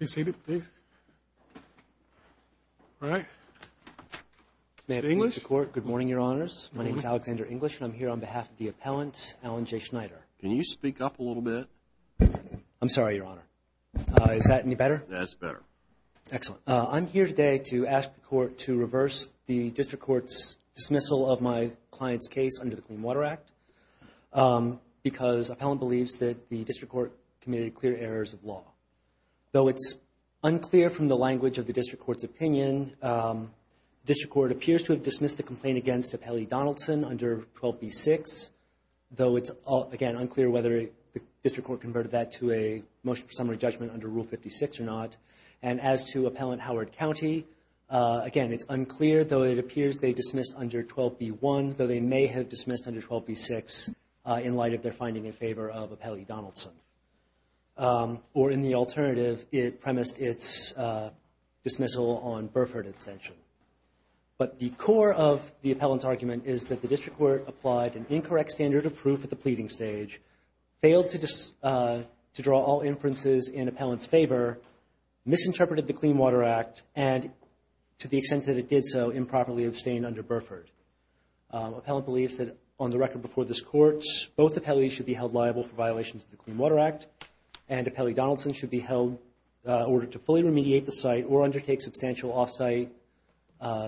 May I speak to the Court? Good morning, Your Honors. My name is Alexander English, and I'm here on behalf of the appellant, Alan J. Schneider. Can you speak up a little bit? I'm sorry, Your Honor. Is that any better? That's better. Excellent. I'm here today to ask the Court to reverse the District Court's dismissal of my client's case under the Clean Water Act because appellant believes that the District Court committed clear errors of law. Though it's unclear from the language of the District Court's opinion, the District Court appears to have dismissed the complaint against Appellee Donaldson under 12b-6, though it's, again, unclear whether the District Court converted that to a motion for summary judgment under Rule 56 or not. And as to Appellant Howard County, again, it's unclear, though it appears they dismissed under 12b-1, though they may have dismissed under 12b-6 in light of their finding in favor of Appellee Donaldson. Or in the alternative, it premised its dismissal on Burford abstention. But the core of the appellant's argument is that the District Court applied an incorrect standard of proof at the pleading stage, failed to draw all inferences in appellant's favor, misinterpreted the Clean Water Act, and, to the extent that it did so, improperly abstained under Burford. Appellant believes that, on the record before this Court, both appellees should be held liable for violations of the Clean Water Act, and Appellee Donaldson should be held ordered to fully remediate the site or undertake substantial off-site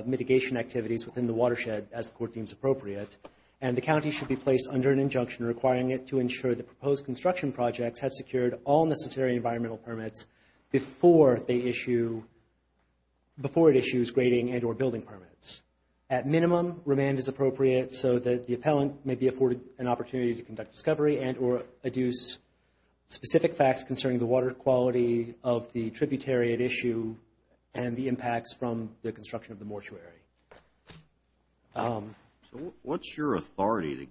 mitigation activities within the watershed as the Court deems appropriate. And the county should be placed under an injunction requiring it to ensure the proposed construction projects have secured all necessary environmental permits before it issues grading and or building permits. At minimum, remand is appropriate so that the appellant may be afforded an opportunity to conduct discovery and or adduce specific facts concerning the water quality of the tributary at issue and the impacts from the construction of the mortuary. So what's your authority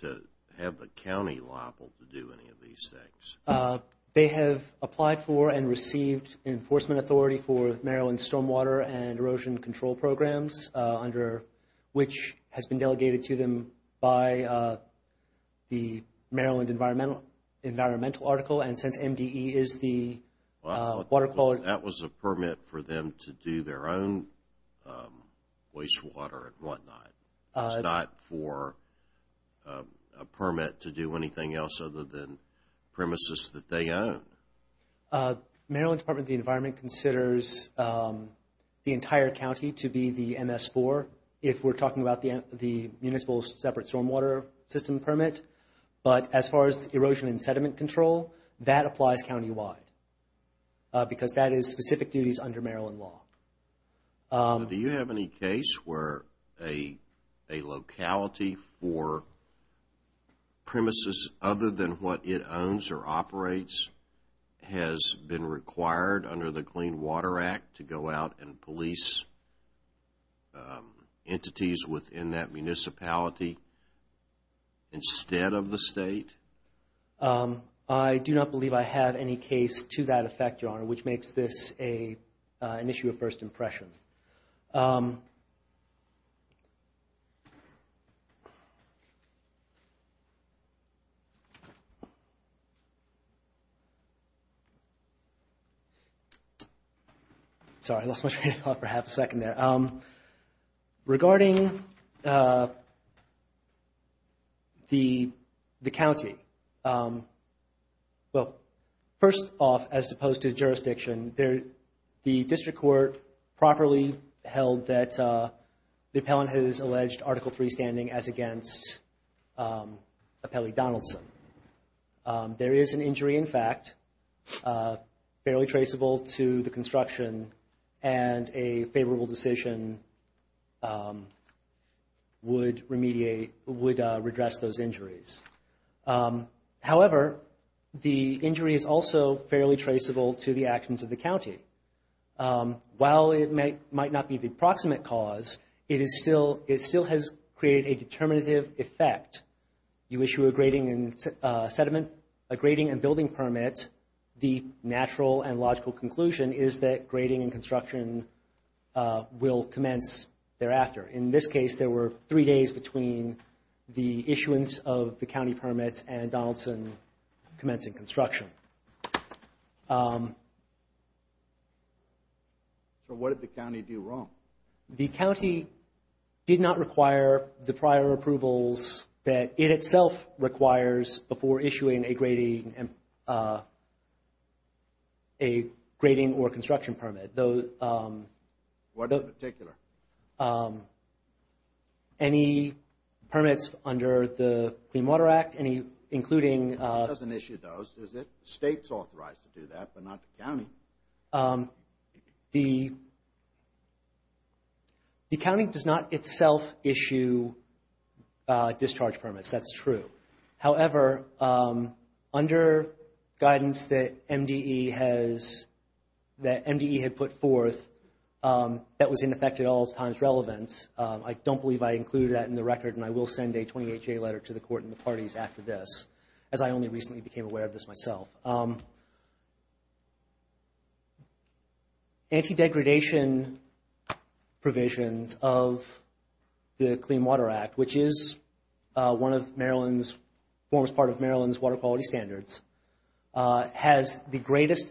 to have the county liable to do any of these things? They have applied for and received enforcement authority for Maryland's stormwater and erosion control programs, under which has been delegated to them by the Maryland Environmental Article. And since MDE is the water quality... Wastewater and whatnot, it's not for a permit to do anything else other than premises that they own. Maryland Department of the Environment considers the entire county to be the MS-4, if we're talking about the municipal separate stormwater system permit. But as far as erosion and sediment control, that applies countywide, because that is specific duties under Maryland law. Do you have any case where a locality for premises other than what it owns or operates has been required under the Clean Water Act to go out and police entities within that municipality instead of the state? I do not believe I have any case to that effect, Your Honor, which makes this an issue of first impression. Sorry, I lost my train of thought for half a second there. Regarding the county, well, first off, as opposed to jurisdiction, the district court properly held that the appellant has alleged Article III standing as against Appellee Donaldson. There is an injury, in fact, fairly traceable to the construction, and a favorable decision would redress those injuries. However, the injury is also fairly traceable to the actions of the county. While it might not be the approximate cause, it still has created a determinative effect. You issue a grading and building permit. The natural and logical conclusion is that grading and construction will commence thereafter. In this case, there were three days between the issuance of the county permits and Donaldson commencing construction. So what did the county do wrong? The county did not require the prior approvals that it itself requires before issuing a grading or construction permit. What in particular? Any permits under the Clean Water Act, including – It doesn't issue those, does it? The state's authorized to do that, but not the county. The county does not itself issue discharge permits. That's true. However, under guidance that MDE had put forth, that was in effect at all times relevant. I don't believe I included that in the record, and I will send a 28-J letter to the court and the parties after this, as I only recently became aware of this myself. Anti-degradation provisions of the Clean Water Act, which is one of Maryland's – forms part of Maryland's water quality standards, has the greatest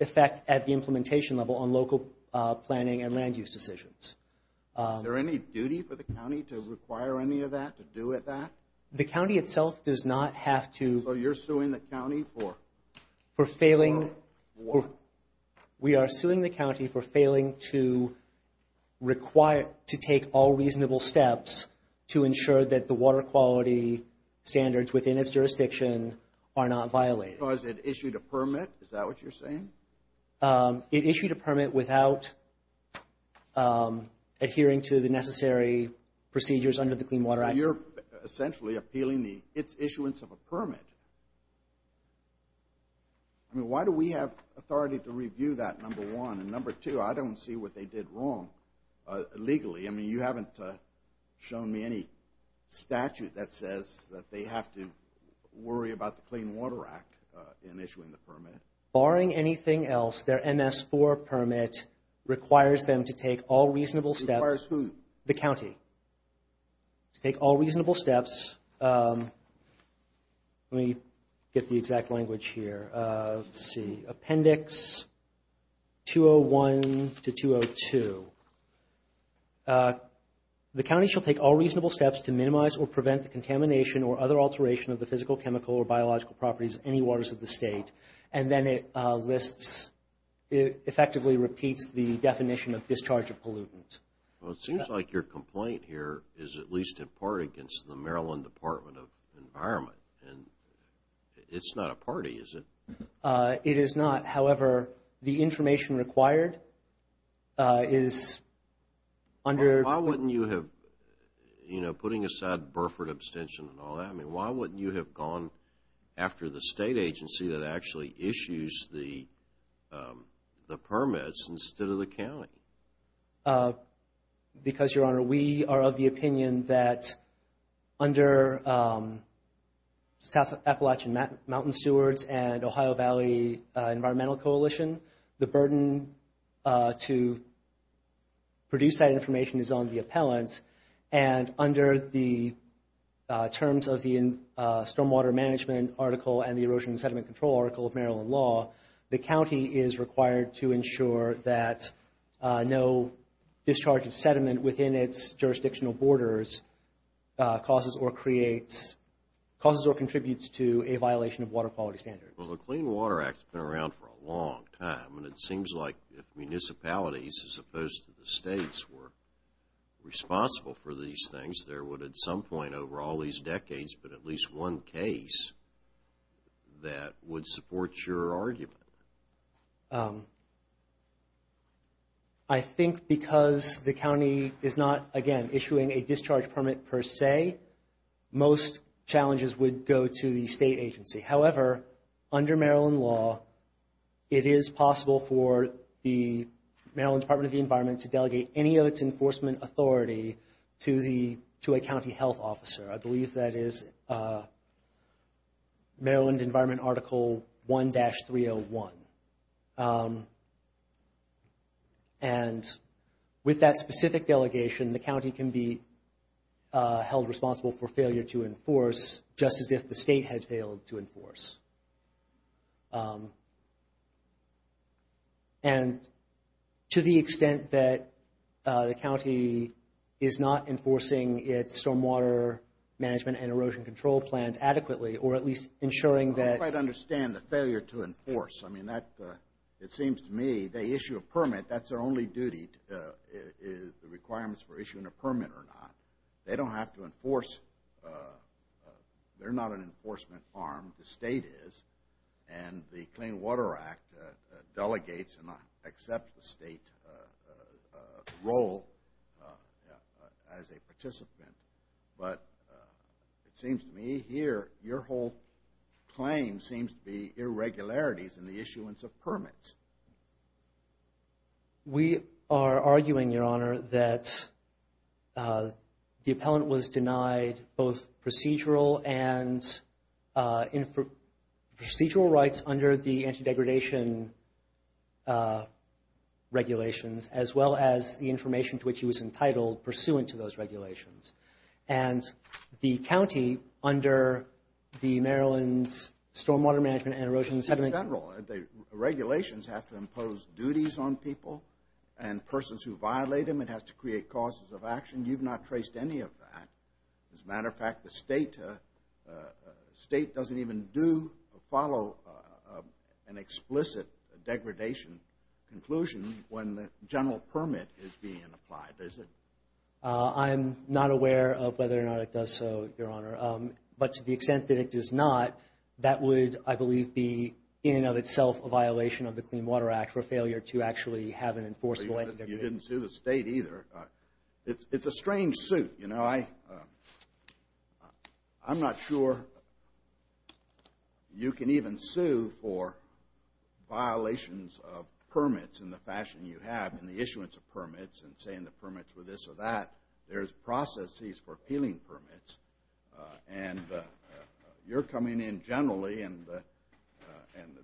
effect at the implementation level on local planning and land use decisions. Is there any duty for the county to require any of that, to do with that? The county itself does not have to – So you're suing the county for? For failing – We are suing the county for failing to require – to take all reasonable steps to ensure that the water quality standards within its jurisdiction are not violated. Because it issued a permit? Is that what you're saying? It issued a permit without adhering to the necessary procedures under the Clean Water Act. So you're essentially appealing the – its issuance of a permit. I mean, why do we have authority to review that, number one? And number two, I don't see what they did wrong legally. I mean, you haven't shown me any statute that says that they have to worry about the Clean Water Act in issuing the permit. Barring anything else, their MS-4 permit requires them to take all reasonable steps – Requires who? The county to take all reasonable steps. Let me get the exact language here. Let's see. Appendix 201 to 202. The county shall take all reasonable steps to minimize or prevent the contamination or other alteration of the physical, chemical, or biological properties of any waters of the state. And then it lists – it effectively repeats the definition of discharge of pollutant. Well, it seems like your complaint here is at least in part against the Maryland Department of Environment. And it's not a party, is it? It is not. However, the information required is under – Why wouldn't you have – you know, putting aside Burford abstention and all that, I mean, why wouldn't you have gone after the state agency that actually issues the permits instead of the county? Because, Your Honor, we are of the opinion that under South Appalachian Mountain Stewards and Ohio Valley Environmental Coalition, the burden to produce that information is on the appellant. And under the terms of the Stormwater Management article and the Erosion and Sediment Control article of Maryland law, the county is required to ensure that no discharge of sediment within its jurisdictional borders causes or creates – causes or contributes to a violation of water quality standards. Well, the Clean Water Act has been around for a long time, and it seems like if municipalities as opposed to the states were responsible for these things, there would at some point over all these decades be at least one case that would support your argument. I think because the county is not, again, issuing a discharge permit per se, most challenges would go to the state agency. However, under Maryland law, it is possible for the Maryland Department of the Environment to delegate any of its enforcement authority to the – to a county health officer. I believe that is Maryland Environment Article 1-301. And with that specific delegation, the county can be held responsible for failure to enforce just as if the state had failed to enforce. And to the extent that the county is not enforcing its stormwater management and erosion control plans adequately, or at least ensuring that – I don't quite understand the failure to enforce. I mean, that – it seems to me they issue a permit. That's their only duty is the requirements for issuing a permit or not. They don't have to enforce – they're not an enforcement arm. The state is. And the Clean Water Act delegates and accepts the state role as a participant. But it seems to me here your whole claim seems to be irregularities in the issuance of permits. We are arguing, Your Honor, that the appellant was denied both procedural and procedural rights under the anti-degradation regulations, as well as the information to which he was entitled pursuant to those regulations. And the county, under the Maryland Stormwater Management and Erosion – Regulations have to impose duties on people and persons who violate them. It has to create causes of action. You've not traced any of that. As a matter of fact, the state doesn't even do or follow an explicit degradation conclusion when the general permit is being applied, does it? I'm not aware of whether or not it does so, Your Honor. But to the extent that it does not, that would, I believe, be, in and of itself, a violation of the Clean Water Act for failure to actually have an enforceable anti-degradation. You didn't sue the state either. It's a strange suit, you know. I'm not sure you can even sue for violations of permits in the fashion you have in the issuance of permits and saying the permits were this or that. There's processes for appealing permits. And you're coming in generally, and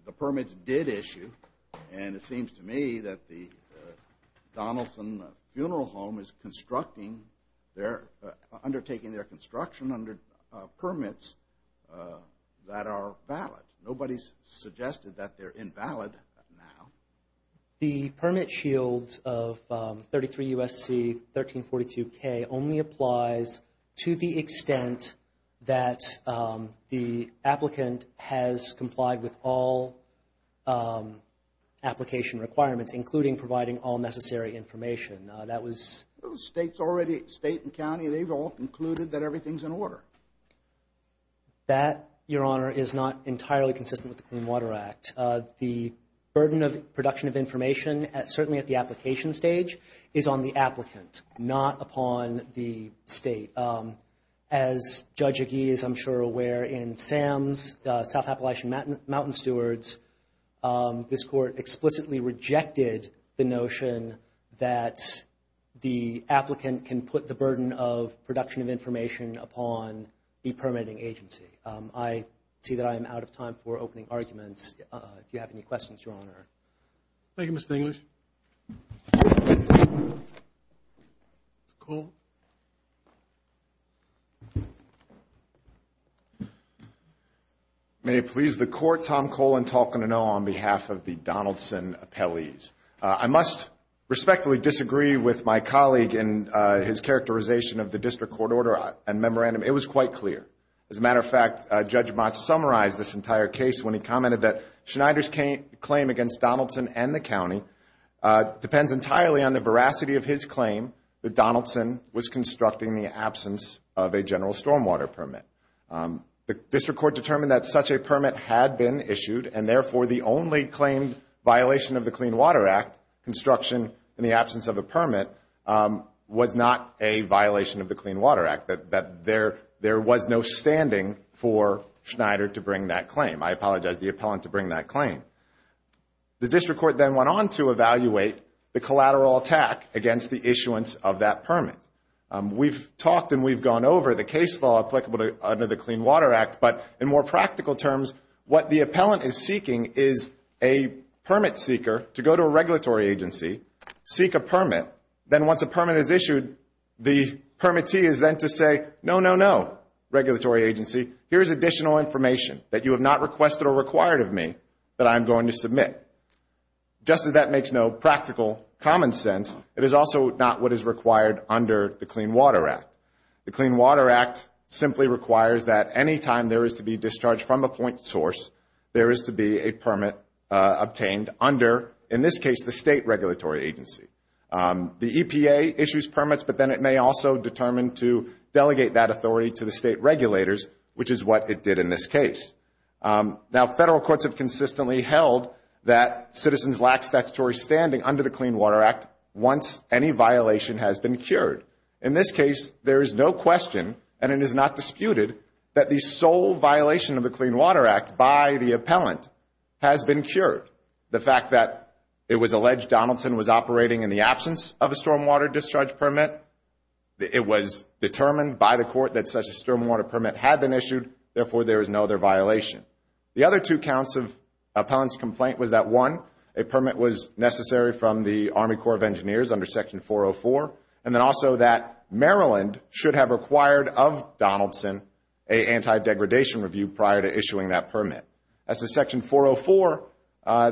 the permits did issue. And it seems to me that the Donaldson Funeral Home is constructing their – undertaking their construction under permits that are valid. Nobody's suggested that they're invalid now. The permit shield of 33 U.S.C. 1342K only applies to the extent that the applicant has complied with all application requirements, including providing all necessary information. That was – The state's already – state and county, they've all concluded that everything's in order. That, Your Honor, is not entirely consistent with the Clean Water Act. The burden of production of information, certainly at the application stage, is on the applicant, not upon the state. As Judge Agee is, I'm sure, aware, in Sam's South Appalachian Mountain Stewards, this Court explicitly rejected the notion that the applicant can put the burden of production of information upon the permitting agency. Okay. I see that I am out of time for opening arguments. If you have any questions, Your Honor. Thank you, Mr. English. Mr. Cole? May it please the Court, Tom Cole and Talkin' O'Neal on behalf of the Donaldson appellees. I must respectfully disagree with my colleague in his characterization of the district court order and memorandum. It was quite clear. As a matter of fact, Judge Mott summarized this entire case when he commented that Schneider's claim against Donaldson and the county depends entirely on the veracity of his claim that Donaldson was constructing in the absence of a general stormwater permit. The district court determined that such a permit had been issued and, therefore, the only claimed violation of the Clean Water Act, construction in the absence of a permit, was not a violation of the Clean Water Act, that there was no standing for Schneider to bring that claim. I apologize to the appellant to bring that claim. The district court then went on to evaluate the collateral attack against the issuance of that permit. We've talked and we've gone over the case law applicable under the Clean Water Act, but in more practical terms, what the appellant is seeking is a permit seeker to go to a regulatory agency, seek a permit, then once a permit is issued, the permittee is then to say, no, no, no, regulatory agency, here's additional information that you have not requested or required of me that I'm going to submit. Just as that makes no practical common sense, it is also not what is required under the Clean Water Act. The Clean Water Act simply requires that any time there is to be discharge from a point source, there is to be a permit obtained under, in this case, the state regulatory agency. The EPA issues permits, but then it may also determine to delegate that authority to the state regulators, which is what it did in this case. Now, federal courts have consistently held that citizens lack statutory standing under the Clean Water Act once any violation has been cured. In this case, there is no question, and it is not disputed, that the sole violation of the Clean Water Act by the appellant has been cured. The fact that it was alleged Donaldson was operating in the absence of a stormwater discharge permit, it was determined by the court that such a stormwater permit had been issued, therefore there is no other violation. The other two counts of appellant's complaint was that, one, a permit was necessary from the Army Corps of Engineers under Section 404, and then also that Maryland should have required of Donaldson an anti-degradation review prior to issuing that permit. As to Section 404,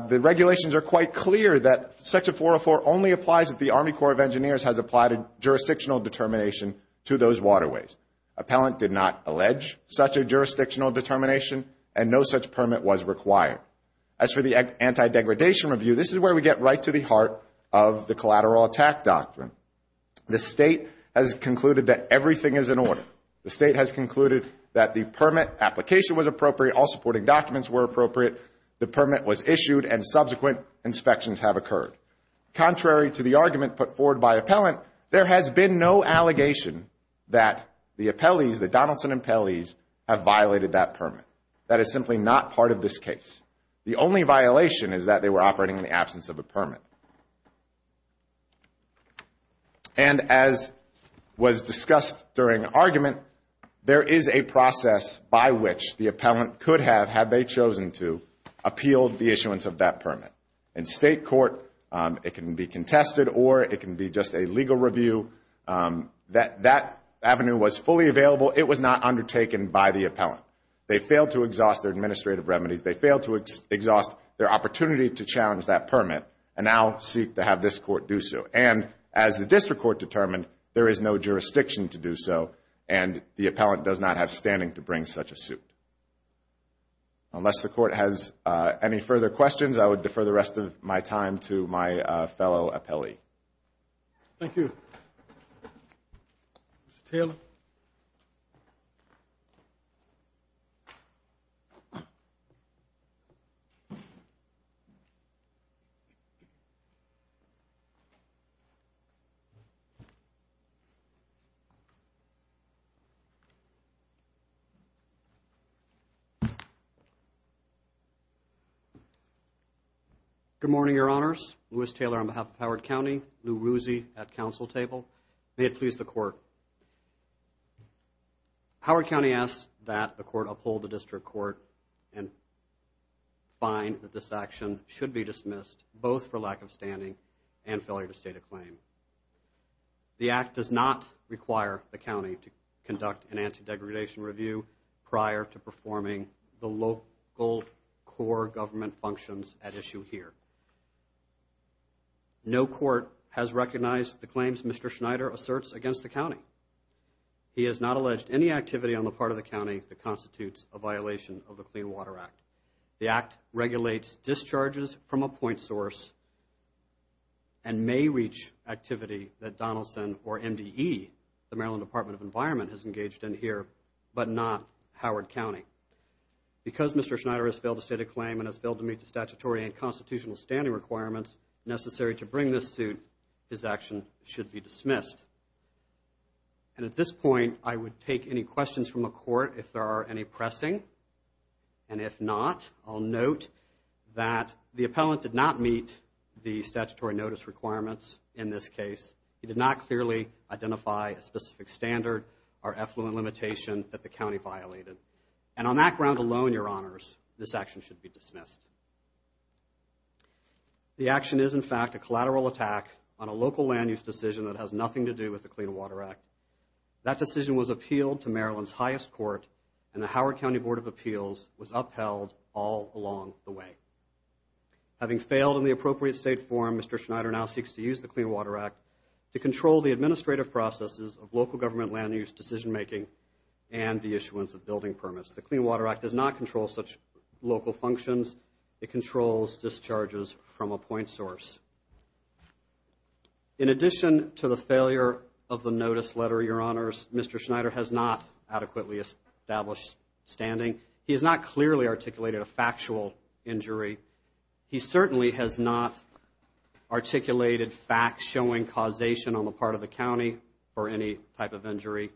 the regulations are quite clear that Section 404 only applies if the Army Corps of Engineers has applied a jurisdictional determination to those waterways. Appellant did not allege such a jurisdictional determination, and no such permit was required. As for the anti-degradation review, this is where we get right to the heart of the collateral attack doctrine. The State has concluded that everything is in order. The State has concluded that the permit application was appropriate, all supporting documents were appropriate, the permit was issued, and subsequent inspections have occurred. Contrary to the argument put forward by appellant, there has been no allegation that the appellees, the Donaldson appellees, have violated that permit. That is simply not part of this case. The only violation is that they were operating in the absence of a permit. And as was discussed during argument, there is a process by which the appellant could have, had they chosen to, appealed the issuance of that permit. In State court, it can be contested or it can be just a legal review. That avenue was fully available. It was not undertaken by the appellant. They failed to exhaust their administrative remedies. They failed to exhaust their opportunity to challenge that permit and now seek to have this court do so. And as the district court determined, there is no jurisdiction to do so and the appellant does not have standing to bring such a suit. Unless the court has any further questions, I would defer the rest of my time to my fellow appellee. Thank you. Mr. Taylor. Good morning, Your Honors. Louis Taylor on behalf of Howard County. Lou Ruzzi at council table. May it please the court. Howard County asks that the court uphold the district court and find that this action should be dismissed both for lack of standing and failure to state a claim. The act does not require the county to conduct an anti-degradation review prior to performing the local core government functions at issue here. No court has recognized the claims Mr. Schneider asserts against the county. He has not alleged any activity on the part of the county that constitutes a violation of the Clean Water Act. The act regulates discharges from a point source and may reach activity that Donaldson or MDE, the Maryland Department of Environment, has engaged in here, but not Howard County. Because Mr. Schneider has failed to state a claim and has failed to meet the statutory and constitutional standing requirements necessary to bring this suit, his action should be dismissed. And at this point, I would take any questions from the court if there are any pressing. And if not, I'll note that the appellant did not meet the statutory notice requirements in this case. He did not clearly identify a specific standard or effluent limitation that the county violated. And on that ground alone, Your Honors, this action should be dismissed. The action is, in fact, a collateral attack on a local land use decision that has nothing to do with the Clean Water Act. That decision was appealed to Maryland's highest court, and the Howard County Board of Appeals was upheld all along the way. Having failed in the appropriate state form, Mr. Schneider now seeks to use the Clean Water Act to control the administrative processes of local government land use decision making and the issuance of building permits. The Clean Water Act does not control such local functions. It controls discharges from a point source. In addition to the failure of the notice letter, Your Honors, Mr. Schneider has not adequately established standing. He has not clearly articulated a factual injury. He certainly has not articulated facts showing causation on the part of the county for any type of injury.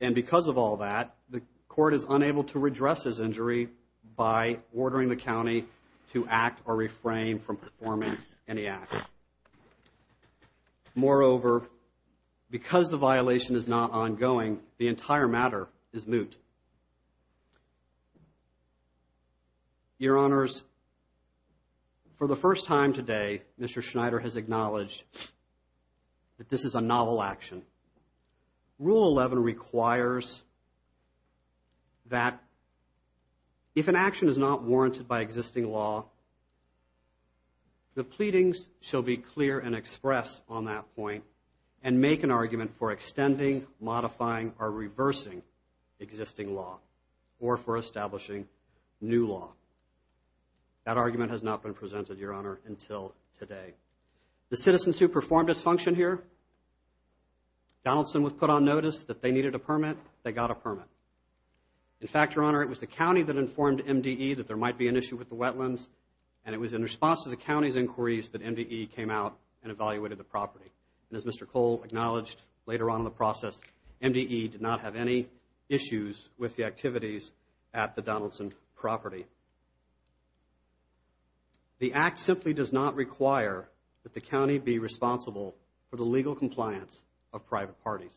And because of all that, the court is unable to redress his injury by ordering the county to act or refrain from performing any act. Moreover, because the violation is not ongoing, the entire matter is moot. Your Honors, for the first time today, Mr. Schneider has acknowledged that this is a novel action. Rule 11 requires that if an action is not warranted by existing law, the pleadings shall be clear and expressed on that point and make an argument for extending, modifying, or reversing existing law or for establishing new law. That argument has not been presented, Your Honor, until today. The citizens who performed this function here, Donaldson was put on notice that they needed a permit. They got a permit. In fact, Your Honor, it was the county that informed MDE that there might be an issue with the wetlands, and it was in response to the county's inquiries that MDE came out and evaluated the property. And as Mr. Cole acknowledged later on in the process, MDE did not have any issues with the activities at the Donaldson property. The act simply does not require that the county be responsible for the legal compliance of private parties.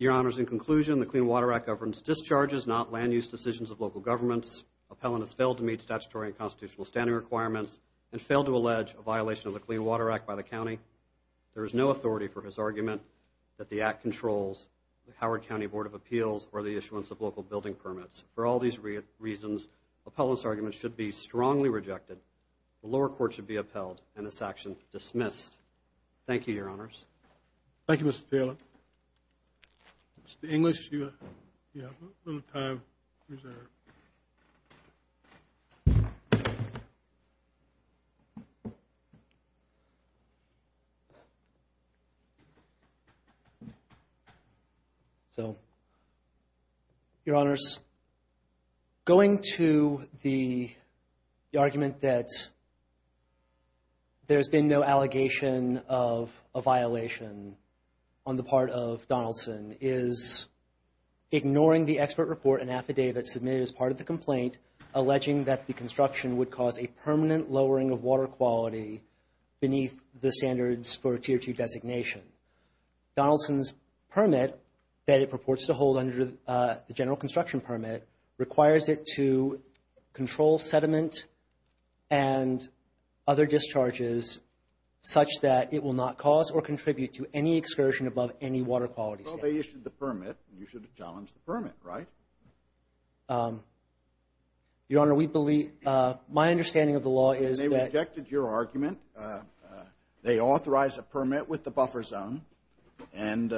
Your Honors, in conclusion, the Clean Water Act governs discharges, not land use decisions of local governments. Appellant has failed to meet statutory and constitutional standing requirements and failed to allege a violation of the Clean Water Act by the county. There is no authority for his argument that the act controls the Howard County Board of Appeals or the issuance of local building permits. For all these reasons, appellant's argument should be strongly rejected, the lower court should be upheld, and this action dismissed. Thank you, Your Honors. Thank you, Mr. Taylor. Mr. English, you have a little time reserved. So, Your Honors, going to the argument that there's been no allegation of a violation on the part of Donaldson is ignoring the expert report and affidavit submitted as part of the complaint alleging that the construction would cause a permanent lowering of water quality beneath the standards for a Tier 2 designation. Donaldson's permit that it purports to hold under the general construction permit requires it to control sediment and other discharges such that it will not cause or contribute to any excursion above any water quality standard. Well, they issued the permit, and you should challenge the permit, right? Your Honor, we believe, my understanding of the law is that they rejected your argument. They authorized a permit with the buffer zone, and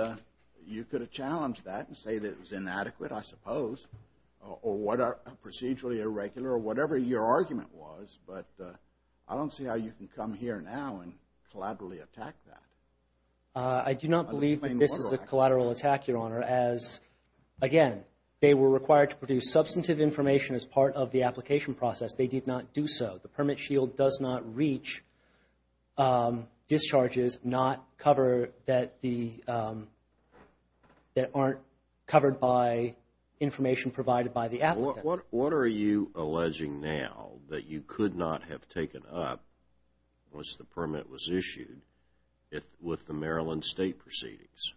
you could have challenged that and say that it was inadequate, I suppose, or procedurally irregular, or whatever your argument was, but I don't see how you can come here now and collaterally attack that. I do not believe that this is a collateral attack, Your Honor, as, again, they were required to produce substantive information as part of the application process. They did not do so. The permit shield does not reach discharges that aren't covered by information provided by the applicant. What are you alleging now that you could not have taken up once the permit was issued with the Maryland state proceedings?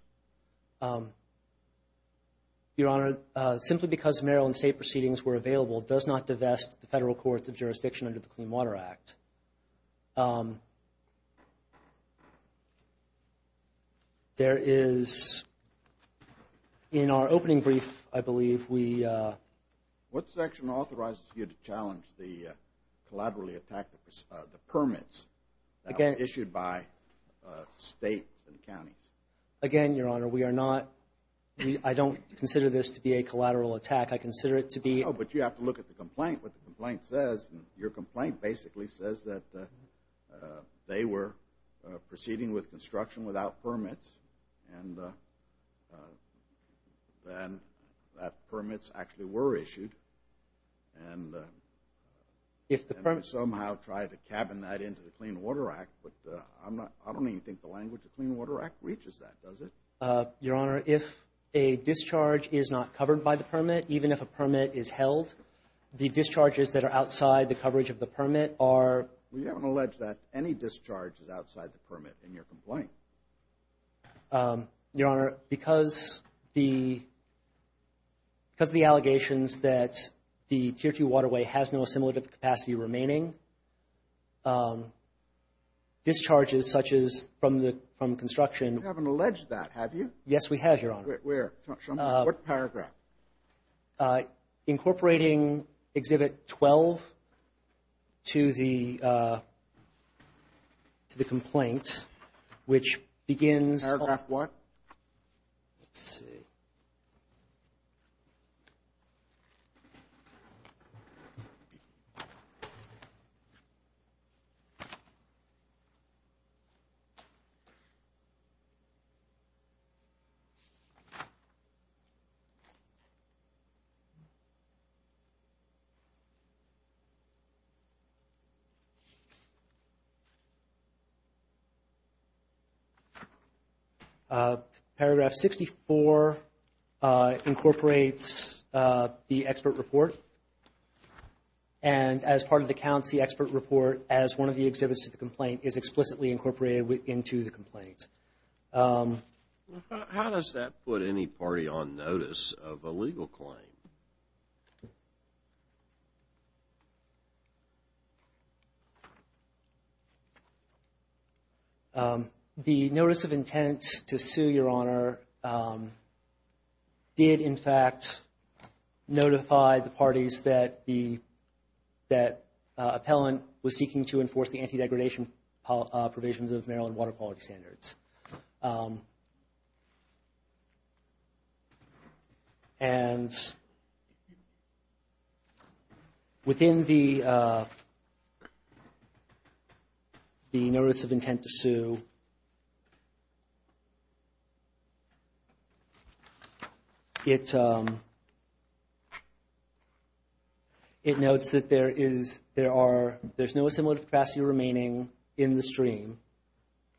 Your Honor, simply because Maryland state proceedings were available does not divest the federal courts of jurisdiction under the Clean Water Act. There is, in our opening brief, I believe, we... What section authorizes you to challenge the collaterally attacked permits that were issued by states and counties? Again, Your Honor, we are not, I don't consider this to be a collateral attack. I consider it to be... Oh, but you have to look at the complaint, what the complaint says. Your complaint basically says that they were proceeding with construction without permits and that permits actually were issued and... If the permit... And they somehow tried to cabin that into the Clean Water Act, but I don't even think the language of the Clean Water Act reaches that, does it? Your Honor, if a discharge is not covered by the permit, even if a permit is held, the discharges that are outside the coverage of the permit are... Well, you haven't alleged that any discharge is outside the permit in your complaint. Your Honor, because the allegations that the Tier 2 waterway has no assimilative capacity remaining, discharges such as from construction... You haven't alleged that, have you? Yes, we have, Your Honor. Where? What paragraph? Incorporating Exhibit 12 to the complaint, which begins... Paragraph what? Let's see. Paragraph 64 incorporates the expert report. And as part of the counts, the expert report, as one of the exhibits to the complaint, is explicitly incorporated into the complaint. How does that put any party on notice of a legal claim? The notice of intent to sue, Your Honor, did in fact notify the parties that the appellant was seeking to enforce the anti-degradation provisions of Maryland water quality standards. And within the notice of intent to sue, it notes that there is... in the stream,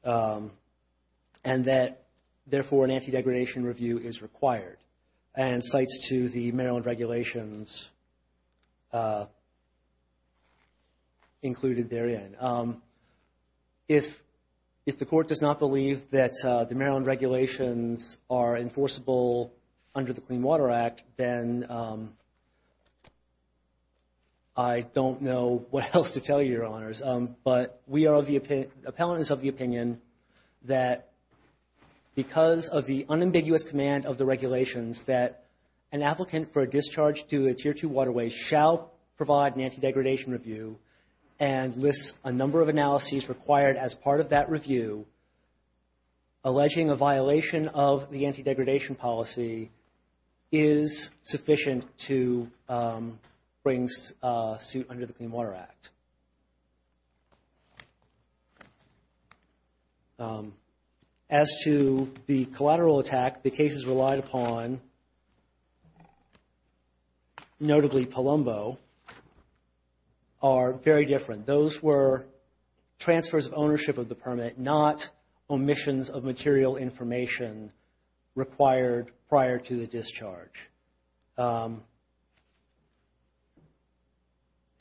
and that, therefore, an anti-degradation review is required, and cites to the Maryland regulations included therein. If the court does not believe that the Maryland regulations are enforceable under the Clean Water Act, then I don't know what else to tell you, Your Honors. But we are of the opinion, appellants of the opinion, that because of the unambiguous command of the regulations that an applicant for a discharge to a Tier 2 waterway shall provide an anti-degradation review and lists a number of analyses required as part of that review, alleging a violation of the anti-degradation policy is sufficient to bring suit under the Clean Water Act. As to the collateral attack, the cases relied upon, notably Palumbo, are very different. Those were transfers of ownership of the permit, not omissions of material information required prior to the discharge.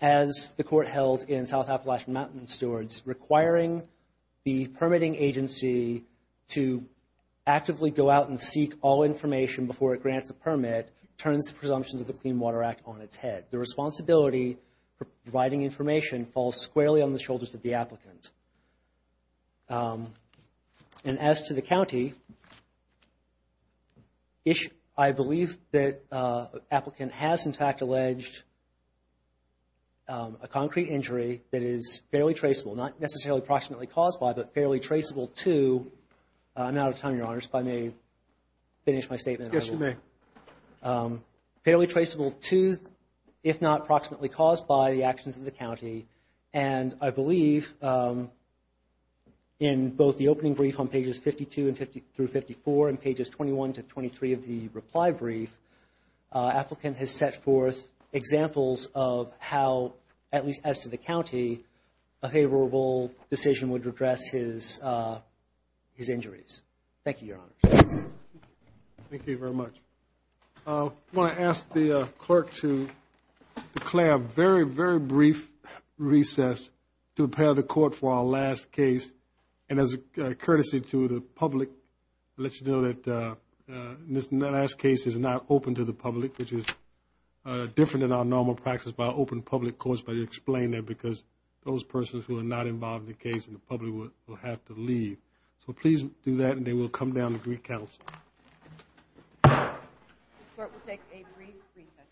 As the court held in South Appalachian Mountain Stewards, requiring the permitting agency to actively go out and seek all information before it grants a permit turns the presumptions of the Clean Water Act on its head. The responsibility for providing information falls squarely on the shoulders of the applicant. And as to the county, I believe that an applicant has, in fact, alleged a concrete injury that is fairly traceable, not necessarily approximately caused by, but fairly traceable to, I'm out of time, Your Honors, if I may finish my statement. Yes, you may. Fairly traceable to, if not approximately caused by, the actions of the county. And I believe in both the opening brief on pages 52 through 54 and pages 21 to 23 of the reply brief, applicant has set forth examples of how, at least as to the county, a favorable decision would address his injuries. Thank you, Your Honors. Thank you very much. I want to ask the clerk to declare a very, very brief recess to prepare the court for our last case. And as a courtesy to the public, let you know that this last case is not open to the public, which is different than our normal practice by open public courts, but I explain that because those persons who are not involved in the case in the public will have to leave. So please do that, and they will come down to Greek Council. This court will take a brief recess.